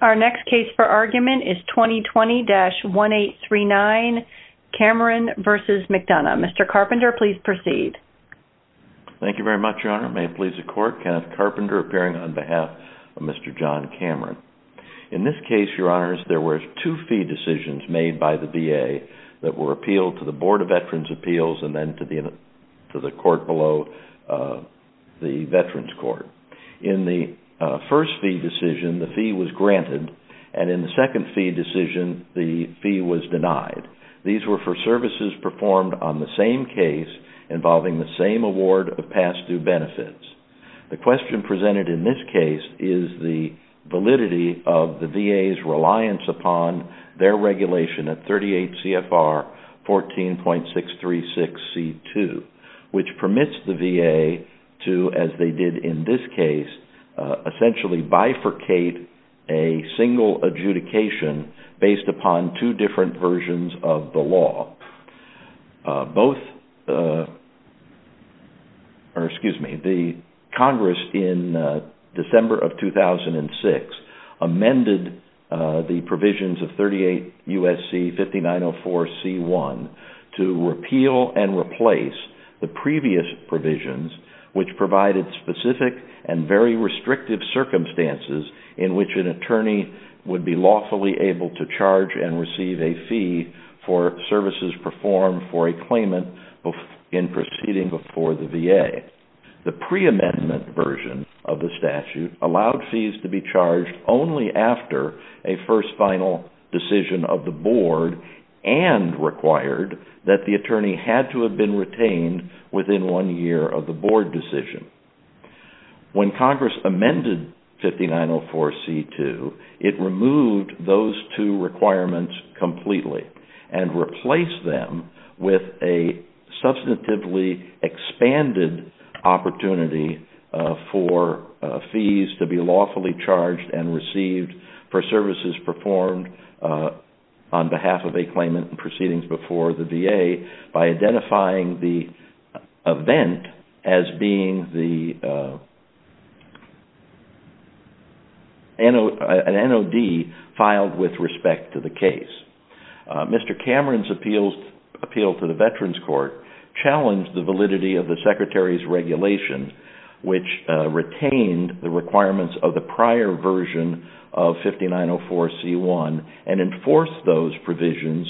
Our next case for argument is 2020-1839, Cameron v. McDonough. Mr. Carpenter, please proceed. Thank you very much, Your Honor. May it please the Court, Kenneth Carpenter appearing on behalf of Mr. John Cameron. In this case, Your Honors, there were two fee decisions made by the VA that were appealed to the Board of Veterans' Appeals and then to the court below the Veterans Court. In the first fee decision, the fee was granted, and in the second fee decision, the fee was denied. These were for services performed on the same case involving the same award of past due benefits. The question presented in this case is the validity of the VA's reliance upon their regulation at 38 CFR 14.636C2, which permits the VA to, as they did in the case, essentially bifurcate a single adjudication based upon two different versions of the law. The Congress in December of 2006 amended the provisions of 38 U.S.C. 5904C1 to repeal and restrict the circumstances in which an attorney would be lawfully able to charge and receive a fee for services performed for a claimant in proceeding before the VA. The pre-amendment version of the statute allowed fees to be charged only after a first final decision of the board and required that the attorney had to have been retained within one year of the board decision. When Congress amended 5904C2, it removed those two requirements completely and replaced them with a substantively expanded opportunity for fees to be lawfully charged and received for services performed on behalf of a claimant in proceedings before the VA by identifying the event as being an NOD filed with respect to the case. Mr. Cameron's appeal to the Veterans Court challenged the validity of the Secretary's regulation, which retained the requirements of the prior version of 5904C1 and enforced those provisions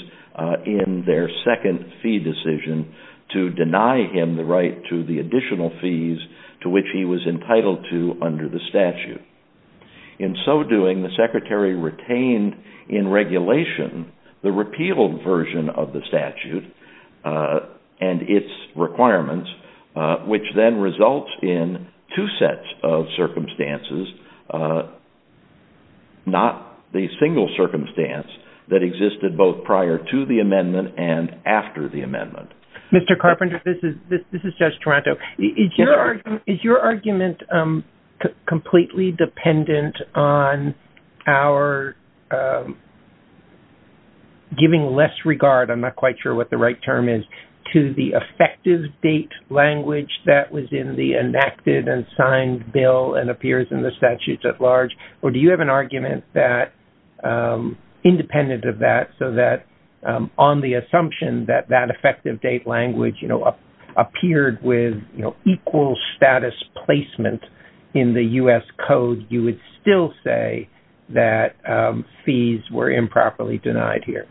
in their second fee decision to deny him the right to the additional fees to which he was entitled to under the statute. In so doing, the Secretary retained in regulation the repealed version of the statute and its requirements, which then results in two sets of circumstances, not the single circumstance that existed both prior to the amendment and after the amendment. Mr. Carpenter, this is Judge Toronto. Is your argument completely dependent on our giving less regard, I'm not quite sure what the right term is, to the effective date language that was in the enacted and signed bill and appears in the statutes at large? Or do you have an argument that, independent of that, so that on the assumption that that effective date language appeared with equal status placement in the U.S. Code, you would still say that fees were improperly denied here?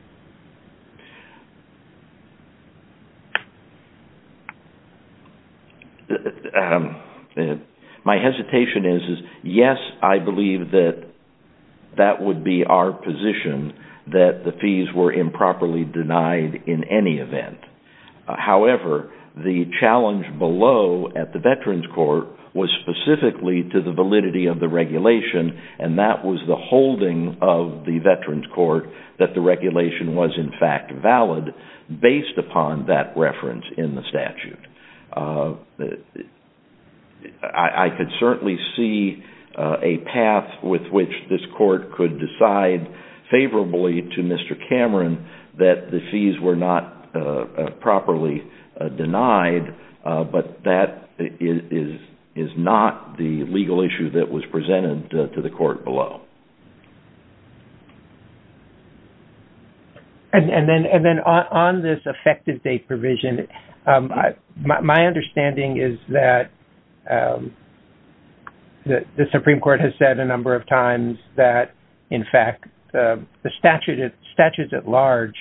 My hesitation is, yes, I believe that that would be our position, that the fees were improperly denied in any event. However, the challenge below at the Veterans Court was specifically to the validity of the regulation, and that was the holding of the Veterans Court that the regulation was in fact valid, based upon that reference in the statute. I could certainly see a path with which this court could decide favorably to Mr. Cameron that the fees were not properly denied, but that is not the legal issue that was presented to the court below. And then on this effective date provision, my understanding is that the Supreme Court has said a number of times that, in fact, the statutes at large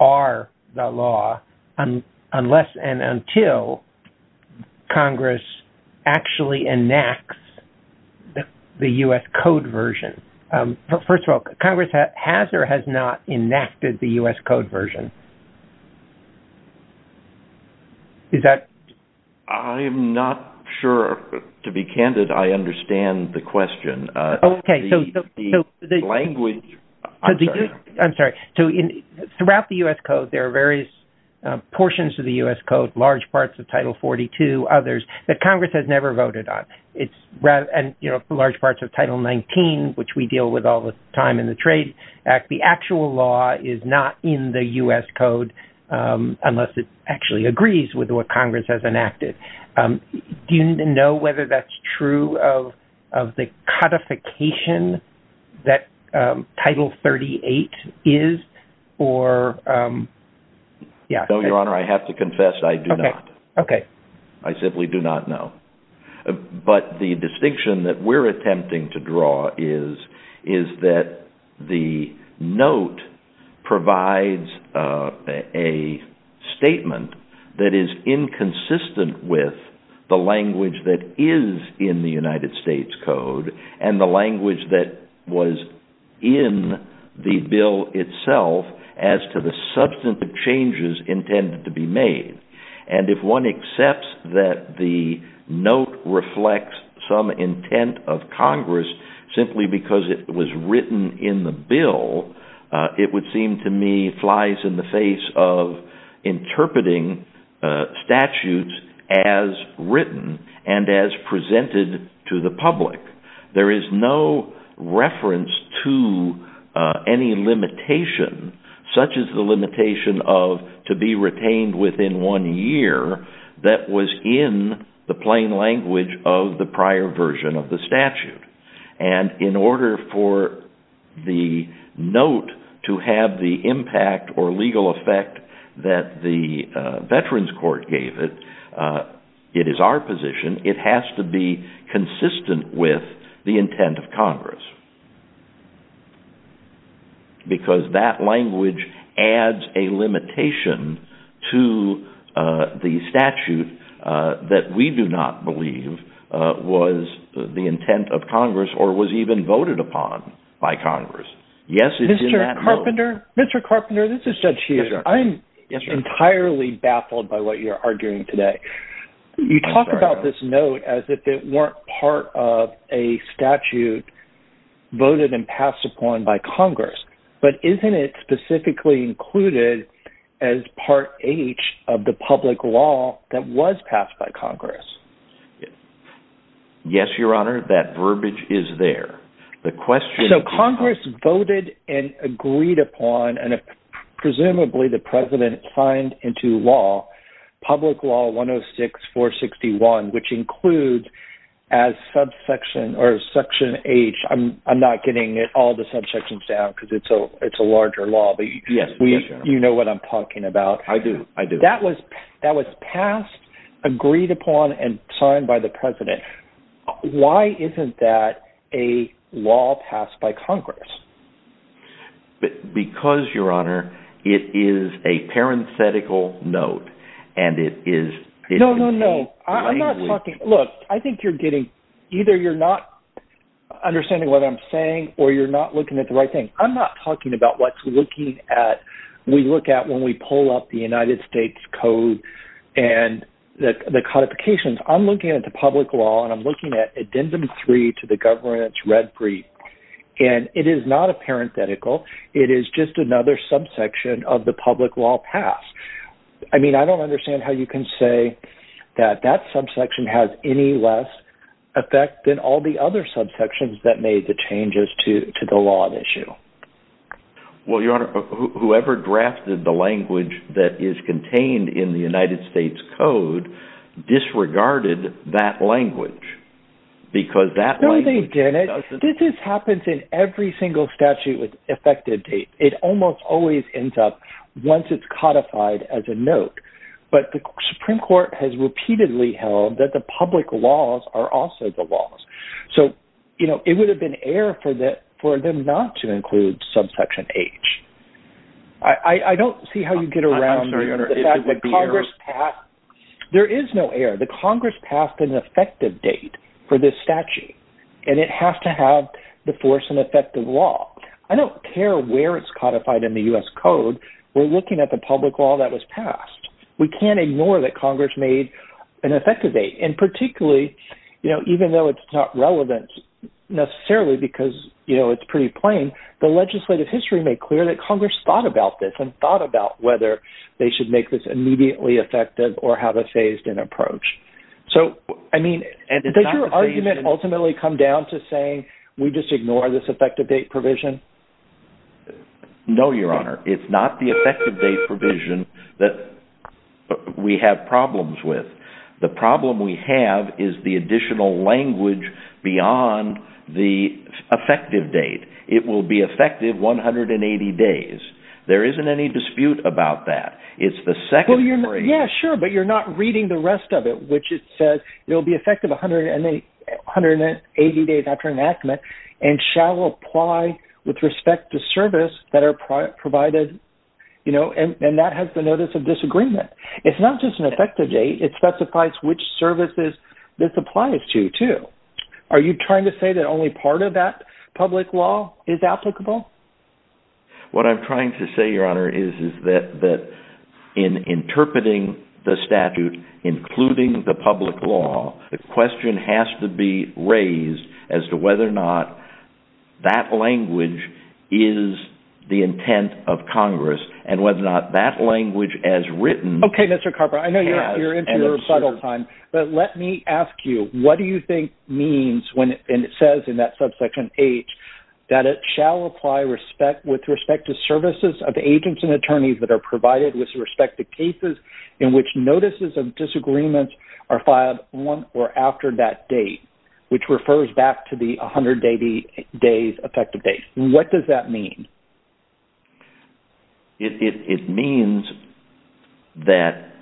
are the law unless and until the statute is enacted, and that is not the case. I'm not sure, to be candid, I understand the question. I'm sorry. Throughout the U.S. Code, there are various portions of the U.S. Code, large parts of Title XIX, which we deal with all the time in the Trade Act. The actual law is not in the U.S. Code unless it actually agrees with what Congress has enacted. Do you know whether that's true of the codification that Title XXXVIII is? No, Your Honor, I have to confess I do not. I simply do not know. But the distinction that we're attempting to draw is that the note provides a statement that is inconsistent with the language that is in the United States Code and the language that was in the bill itself as to the substantive changes intended to be made. And if one accepts that the note reflects some intent of Congress simply because it was written in the bill, it would seem to me flies in the face of interpreting statutes as written and as presented to the public. There is no reference to any limitation such as the limitation of to be retained within one year that was in the plain language of the prior version of the statute. And in order for the note to have the impact or legal effect that the Veterans Court gave it, it is our position it has to be consistent with the intent of Congress. Because that language adds a limitation to the statute that we do not believe was the intent of Congress or was even voted upon by Congress. Yes, it is in that note. Mr. Carpenter, this is Judge Hughes. I'm entirely baffled by what you're arguing today. You talk about this note as if it weren't part of a statute voted and passed upon by Congress. But isn't it specifically included as Part H of the public law that was passed by Congress? Yes, Your Honor, that verbiage is there. The question is... So Congress voted and agreed upon and presumably the President signed into law Public Law 106-461 which includes as subsection or Section H. I'm not getting all the subsections down because it's a larger law, but you know what I'm talking about. I do. I do. That was passed, agreed upon, and signed by the President. Why isn't that a law passed by Congress? Because, Your Honor, it is a parenthetical note and it is... No, no, no. I'm not talking... Look, I think you're getting... Either you're not understanding what I'm saying or you're not looking at the right thing. I'm not talking about what's looking at... We look at when we pull up the United States Code and the codifications. I'm looking at the public law and I'm looking at Addendum 3 to the Governance Red Brief and it is not a parenthetical. It is just another subsection of the public law passed. I mean, I don't understand how you can say that that subsection has any less effect than all the other subsections that made the changes to the law at issue. Well, Your Honor, whoever drafted the language that is contained in the United States Code disregarded that language because that language... No, they didn't. This happens in every single statute with almost always ends up once it's codified as a note. But the Supreme Court has repeatedly held that the public laws are also the laws. So, you know, it would have been air for them not to include subsection H. I don't see how you get around the fact that Congress passed... There is no air. The Congress passed an effective date for this statute and it has to have the force and effect of law. I don't care where it's codified in the U.S. Code. We're looking at the public law that was passed. We can't ignore that Congress made an effective date and particularly, you know, even though it's not relevant necessarily because, you know, it's pretty plain, the legislative history made clear that Congress thought about this and thought about whether they should make this immediately effective or have a phased in approach. So, I mean, does your argument ultimately come down to saying we just ignore this effective date provision? No, Your Honor. It's not the effective date provision that we have problems with. The problem we have is the additional language beyond the effective date. It will be effective 180 days. There isn't any dispute about that. It's the second... Well, yeah, sure, but you're not reading the rest of it, which it says it will be effective 180 days after enactment and shall apply with respect to service that are provided, you know, and that has the notice of disagreement. It's not just an effective date. It specifies which services this applies to, too. Are you trying to say that only part of that public law is applicable? What I'm trying to say, Your Honor, is that in interpreting the statute, including the public law, the question has to be raised as to whether or not that language is the intent of Congress and whether or not that language as written... Okay, Mr. Carper, I know you're into the rebuttal time, but let me ask you, what do you think means when it says in that subsection H that it shall apply with respect to services of agents and attorneys that are provided with respect to cases in which notices of disagreements are filed on or after that date, which refers back to the 180 days effective date? What does that mean? It means that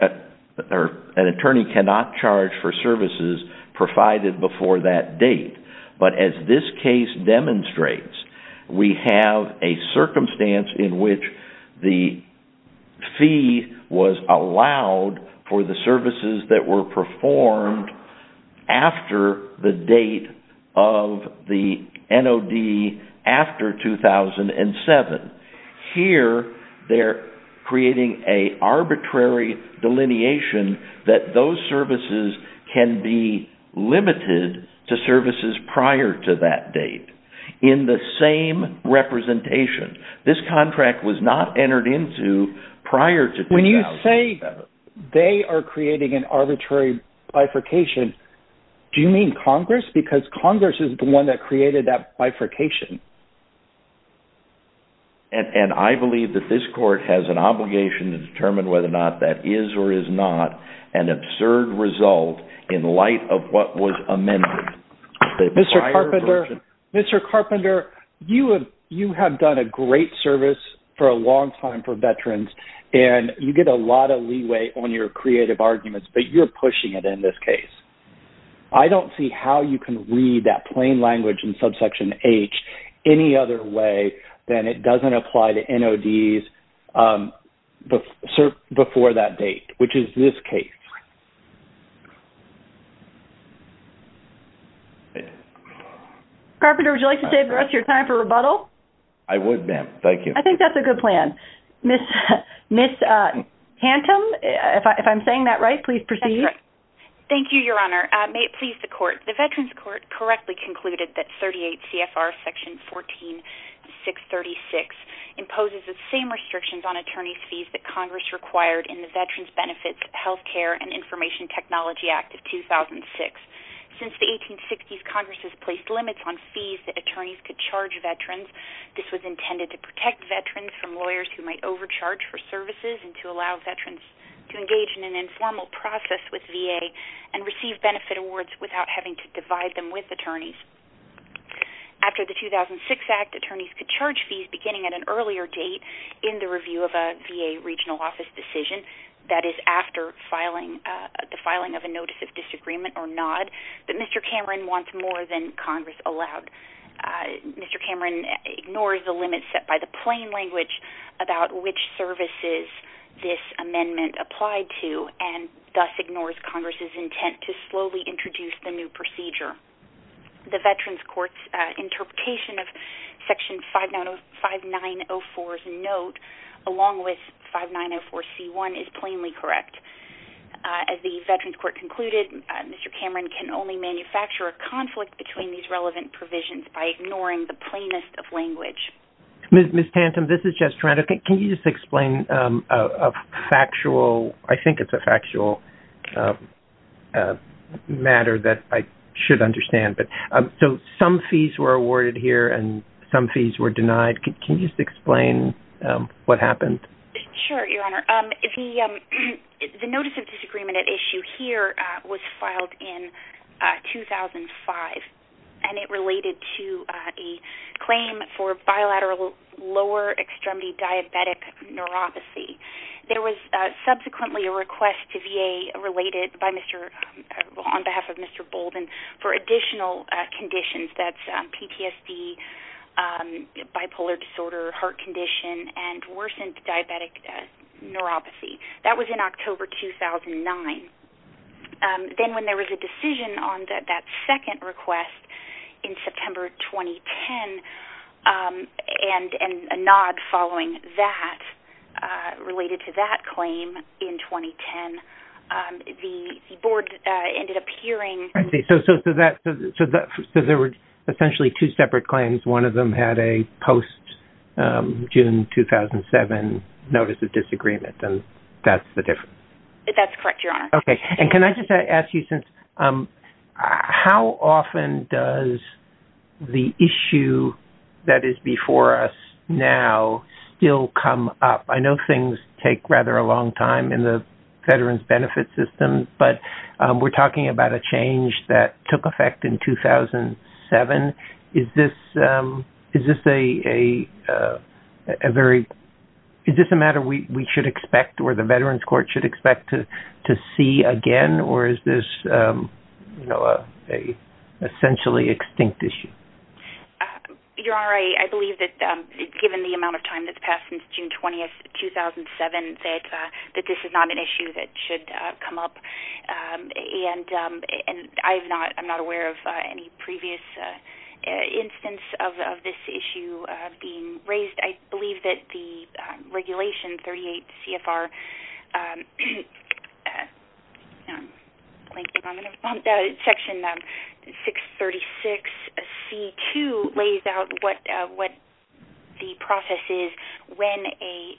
an attorney cannot charge for services provided before that date, but as this case demonstrates, we have a circumstance in which the fee was allowed for the services that were performed after the date of the NOD after 2007. Here, they're creating an arbitrary delineation that those services can be limited to services prior to that date. In the same representation, this contract was not entered into prior to 2007. They are creating an arbitrary bifurcation. Do you mean Congress? Because Congress is the one that created that bifurcation. And I believe that this court has an obligation to determine whether or not that is or is not an absurd result in light of what was amended. Mr. Carpenter, you have done a great service for a long time for veterans, and you get a lot of leeway on your creative arguments, but you're pushing it in this case. I don't see how you can read that plain language in subsection H any other way than it doesn't apply to NODs before that date, which is this case. Carpenter, would you like to save the rest of your time for rebuttal? I think that's a good plan. Ms. Hantum, if I'm saying that right, please proceed. Thank you, Your Honor. May it please the court. The Veterans Court correctly concluded that 38 CFR section 14636 imposes the same restrictions on attorney's fees that Congress required in the Veterans Benefits Healthcare and Information Technology Act of 2006. Since the 1860s, Congress has placed limits on fees that attorneys could charge veterans. This was intended to protect veterans from lawyers who might overcharge for services and to allow veterans to engage in an informal process with VA and receive benefit awards without having to divide them with attorneys. After the 2006 Act, attorneys could charge fees beginning at an earlier date in the review of a VA regional office decision, that is after the filing of a notice of disagreement or NOD, but Mr. Cameron wants more than Congress allowed. Mr. Cameron ignores the plain language about which services this amendment applied to and thus ignores Congress' intent to slowly introduce the new procedure. The Veterans Court's interpretation of section 5904's note along with 5904C1 is plainly correct. As the Veterans Court concluded, Mr. Cameron can only manufacture a conflict between these relevant provisions by ignoring the plainest of language. Ms. Tantum, this is Jeff Toronto. Can you just explain a factual, I think it's a factual matter that I should understand. So some fees were awarded here and some fees were denied. Can you just explain what happened? Sure, Your Honor. The notice of disagreement at issue here was filed in 2005 and it related to a claim for bilateral lower extremity diabetic neuropathy. There was subsequently a request to VA related on behalf of Mr. Bolden for additional conditions, that's PTSD, bipolar disorder, heart condition, and worsened diabetic neuropathy. That was in October 2009. And then when there was a decision on that second request in September 2010 and a nod following that related to that claim in 2010, the board ended up hearing- I see. So there were essentially two separate claims. One of them had a post-June 2007 notice of disagreement and that's the difference? That's correct, Your Honor. Okay. And can I just ask you since- how often does the issue that is before us now still come up? I know things take rather a long time in the veterans benefit system, but we're talking about a change that took effect in 2007. Is this a matter we should expect or the veterans court should expect to see again or is this a essentially extinct issue? Your Honor, I believe that given the amount of time that's passed since June 20th, 2007, that this is not an issue that should come up. And I'm not aware of any previous instance of this issue being raised. I believe that the regulation 38 CFR- section 636C2 lays out what the process is when a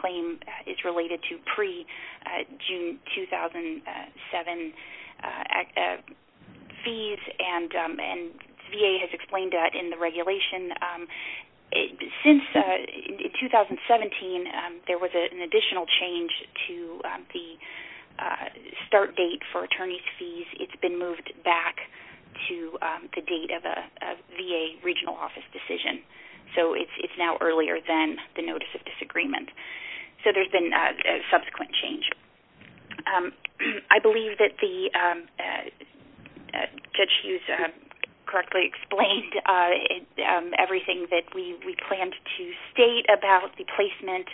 claim is related to pre-June 2007 act- fees and VA has explained that in the regulation. Since 2017, there was an additional change to the start date for attorney's fees. It's been moved back to the date of a VA regional office decision. So it's now earlier than the notice of disagreement. So there's been a subsequent change. I believe that Judge Hughes correctly explained everything that we planned to state about the placement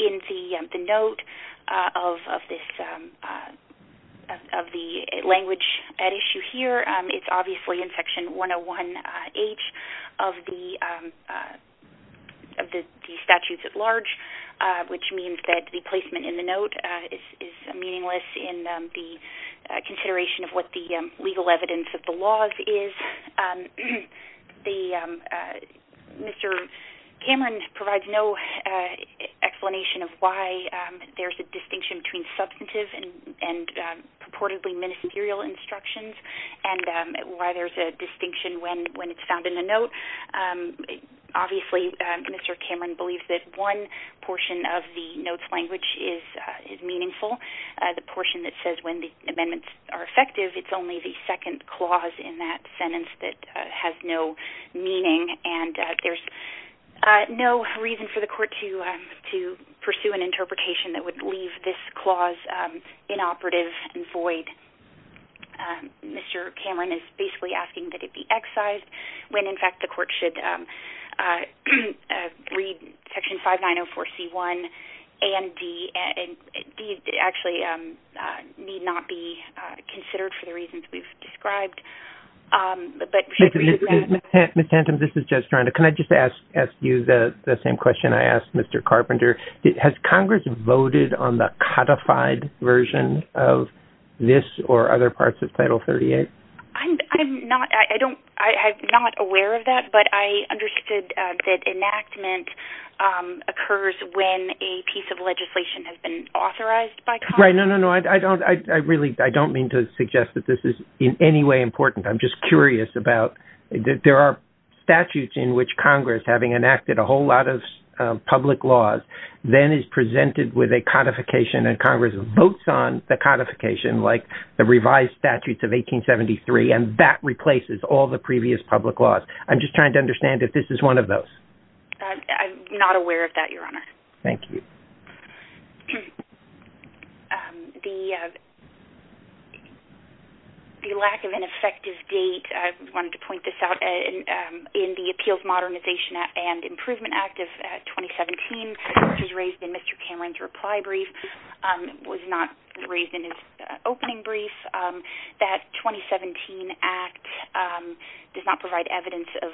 in the note of the language at issue here. It's obviously in section 101H of the statutes at large, which means that the placement in the note is meaningless in the consideration of what the legal evidence of the laws is. Mr. Cameron provides no explanation of why there's a distinction between substantive and purportedly ministerial and why there's a distinction when it's found in the note. Obviously, Mr. Cameron believes that one portion of the note's language is meaningful. The portion that says when the amendments are effective, it's only the second clause in that sentence that has no meaning and there's no reason for the court to pursue an interpretation that would leave this clause inoperative and void. Mr. Cameron is basically asking that it be excised when, in fact, the court should read section 5904C1 and D, and D actually need not be considered for the reasons we've described. Ms. Tanton, this is Judge Toronto. Can I just ask you the same question I asked Mr. Carpenter? Has Congress voted on the codified version of this or other parts of Title 38? I'm not aware of that, but I understood that enactment occurs when a piece of legislation has been authorized by Congress. Right, no, no, no. I don't mean to suggest that this is in any way important. I'm just curious about, there are statutes in which having enacted a whole lot of public laws, then is presented with a codification and Congress votes on the codification, like the revised statutes of 1873, and that replaces all the previous public laws. I'm just trying to understand if this is one of those. I'm not aware of that, Your Honor. Thank you. The lack of an effective date, I wanted to point this out, in the Appeals Modernization and Improvement Act of 2017, which was raised in Mr. Cameron's reply brief, was not raised in his opening brief. That 2017 Act does not provide evidence of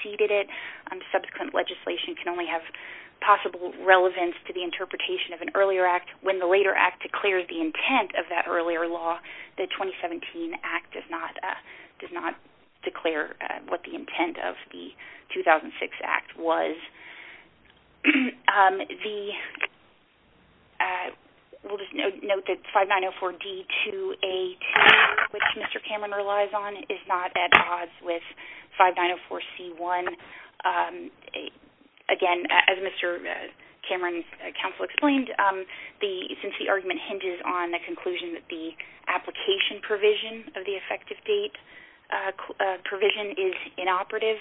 preceded it. Subsequent legislation can only have possible relevance to the interpretation of an earlier act. When the later act declares the intent of that earlier law, the 2017 Act does not declare what the intent of the 2006 Act was. We'll just note that 5904D-2A-2, which Mr. Cameron's counsel explained, since the argument hinges on the conclusion that the application provision of the effective date provision is inoperative,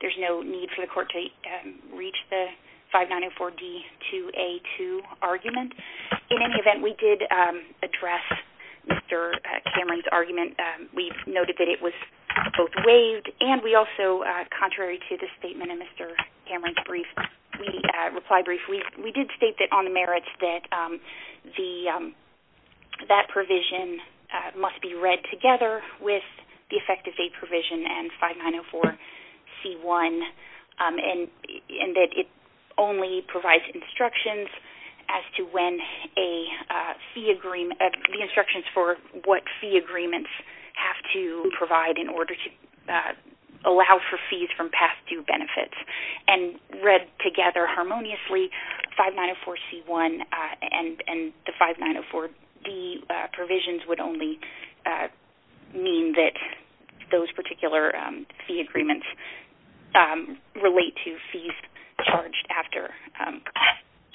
there's no need for the court to reach the 5904D-2A-2 argument. In any event, we did address Mr. Cameron's argument. We've noted that it was both waived and we also, contrary to the statement in Mr. Cameron's reply brief, we did state that on the merits that that provision must be read together with the effective date provision and 5904C-1, and that it only provides instructions as to when a fee agreement, the instructions for what fee agreements have to provide in order to allow for fees from past due benefits. And read together harmoniously, 5904C-1 and the 5904D provisions would only mean that those particular fee agreements don't relate to fees charged after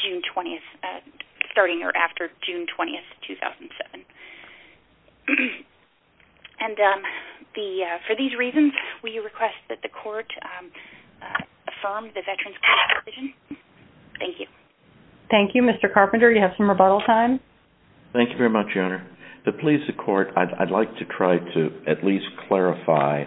June 20th, starting or after June 20th, 2007. And for these reasons, we request that the court affirm the Veterans' Court provision. Thank you. Thank you. Mr. Carpenter, you have some rebuttal time. Thank you very much, Your Honor. To please the court, I'd like to try to at least clarify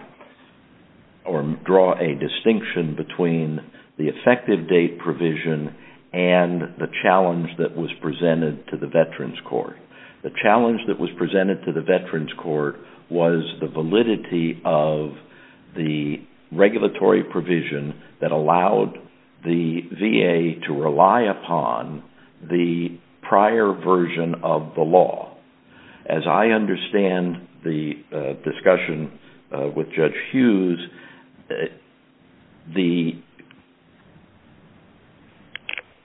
or draw a distinction between the effective date provision and the challenge that was presented to the Veterans' Court. The challenge that was presented to the Veterans' Court was the validity of the regulatory provision that allowed the VA to rely upon the prior version of the law. As I understand the discussion with Judge Hughes, the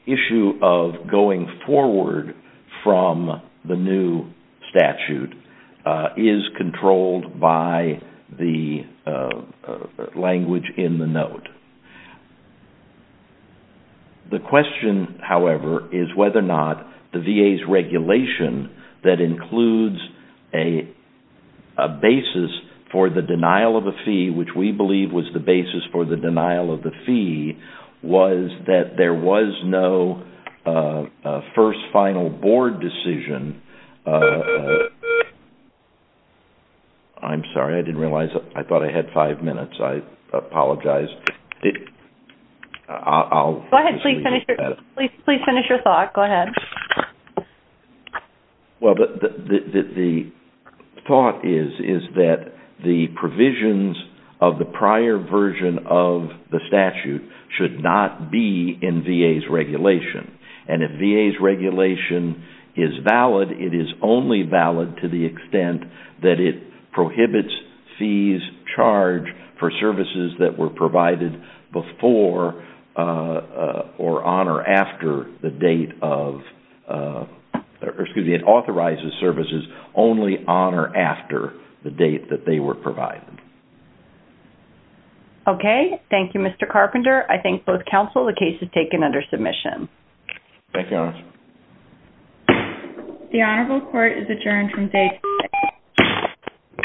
issue of going forward from the new statute is controlled by the language in the note. The question, however, is whether or not the VA's regulation that includes a basis for the denial of a fee, which we believe was the basis for the denial of the fee, was that there was no first final board decision. I'm sorry. I didn't realize. I thought I had five minutes. I apologize. Go ahead. Please finish your thought. Go ahead. Well, the thought is that the provisions of the prior version of the statute should not be in VA's regulation. If VA's regulation is valid, it is only valid to the extent that it prohibits fees charged for services that were provided before or on or after the date of, excuse me, it authorizes services only on or after the date that they were provided. Okay. Thank you, Mr. Carpenter. I thank both counsel. The case is taken under submission. Thank you, Your Honor. The Honorable Court is adjourned from day two.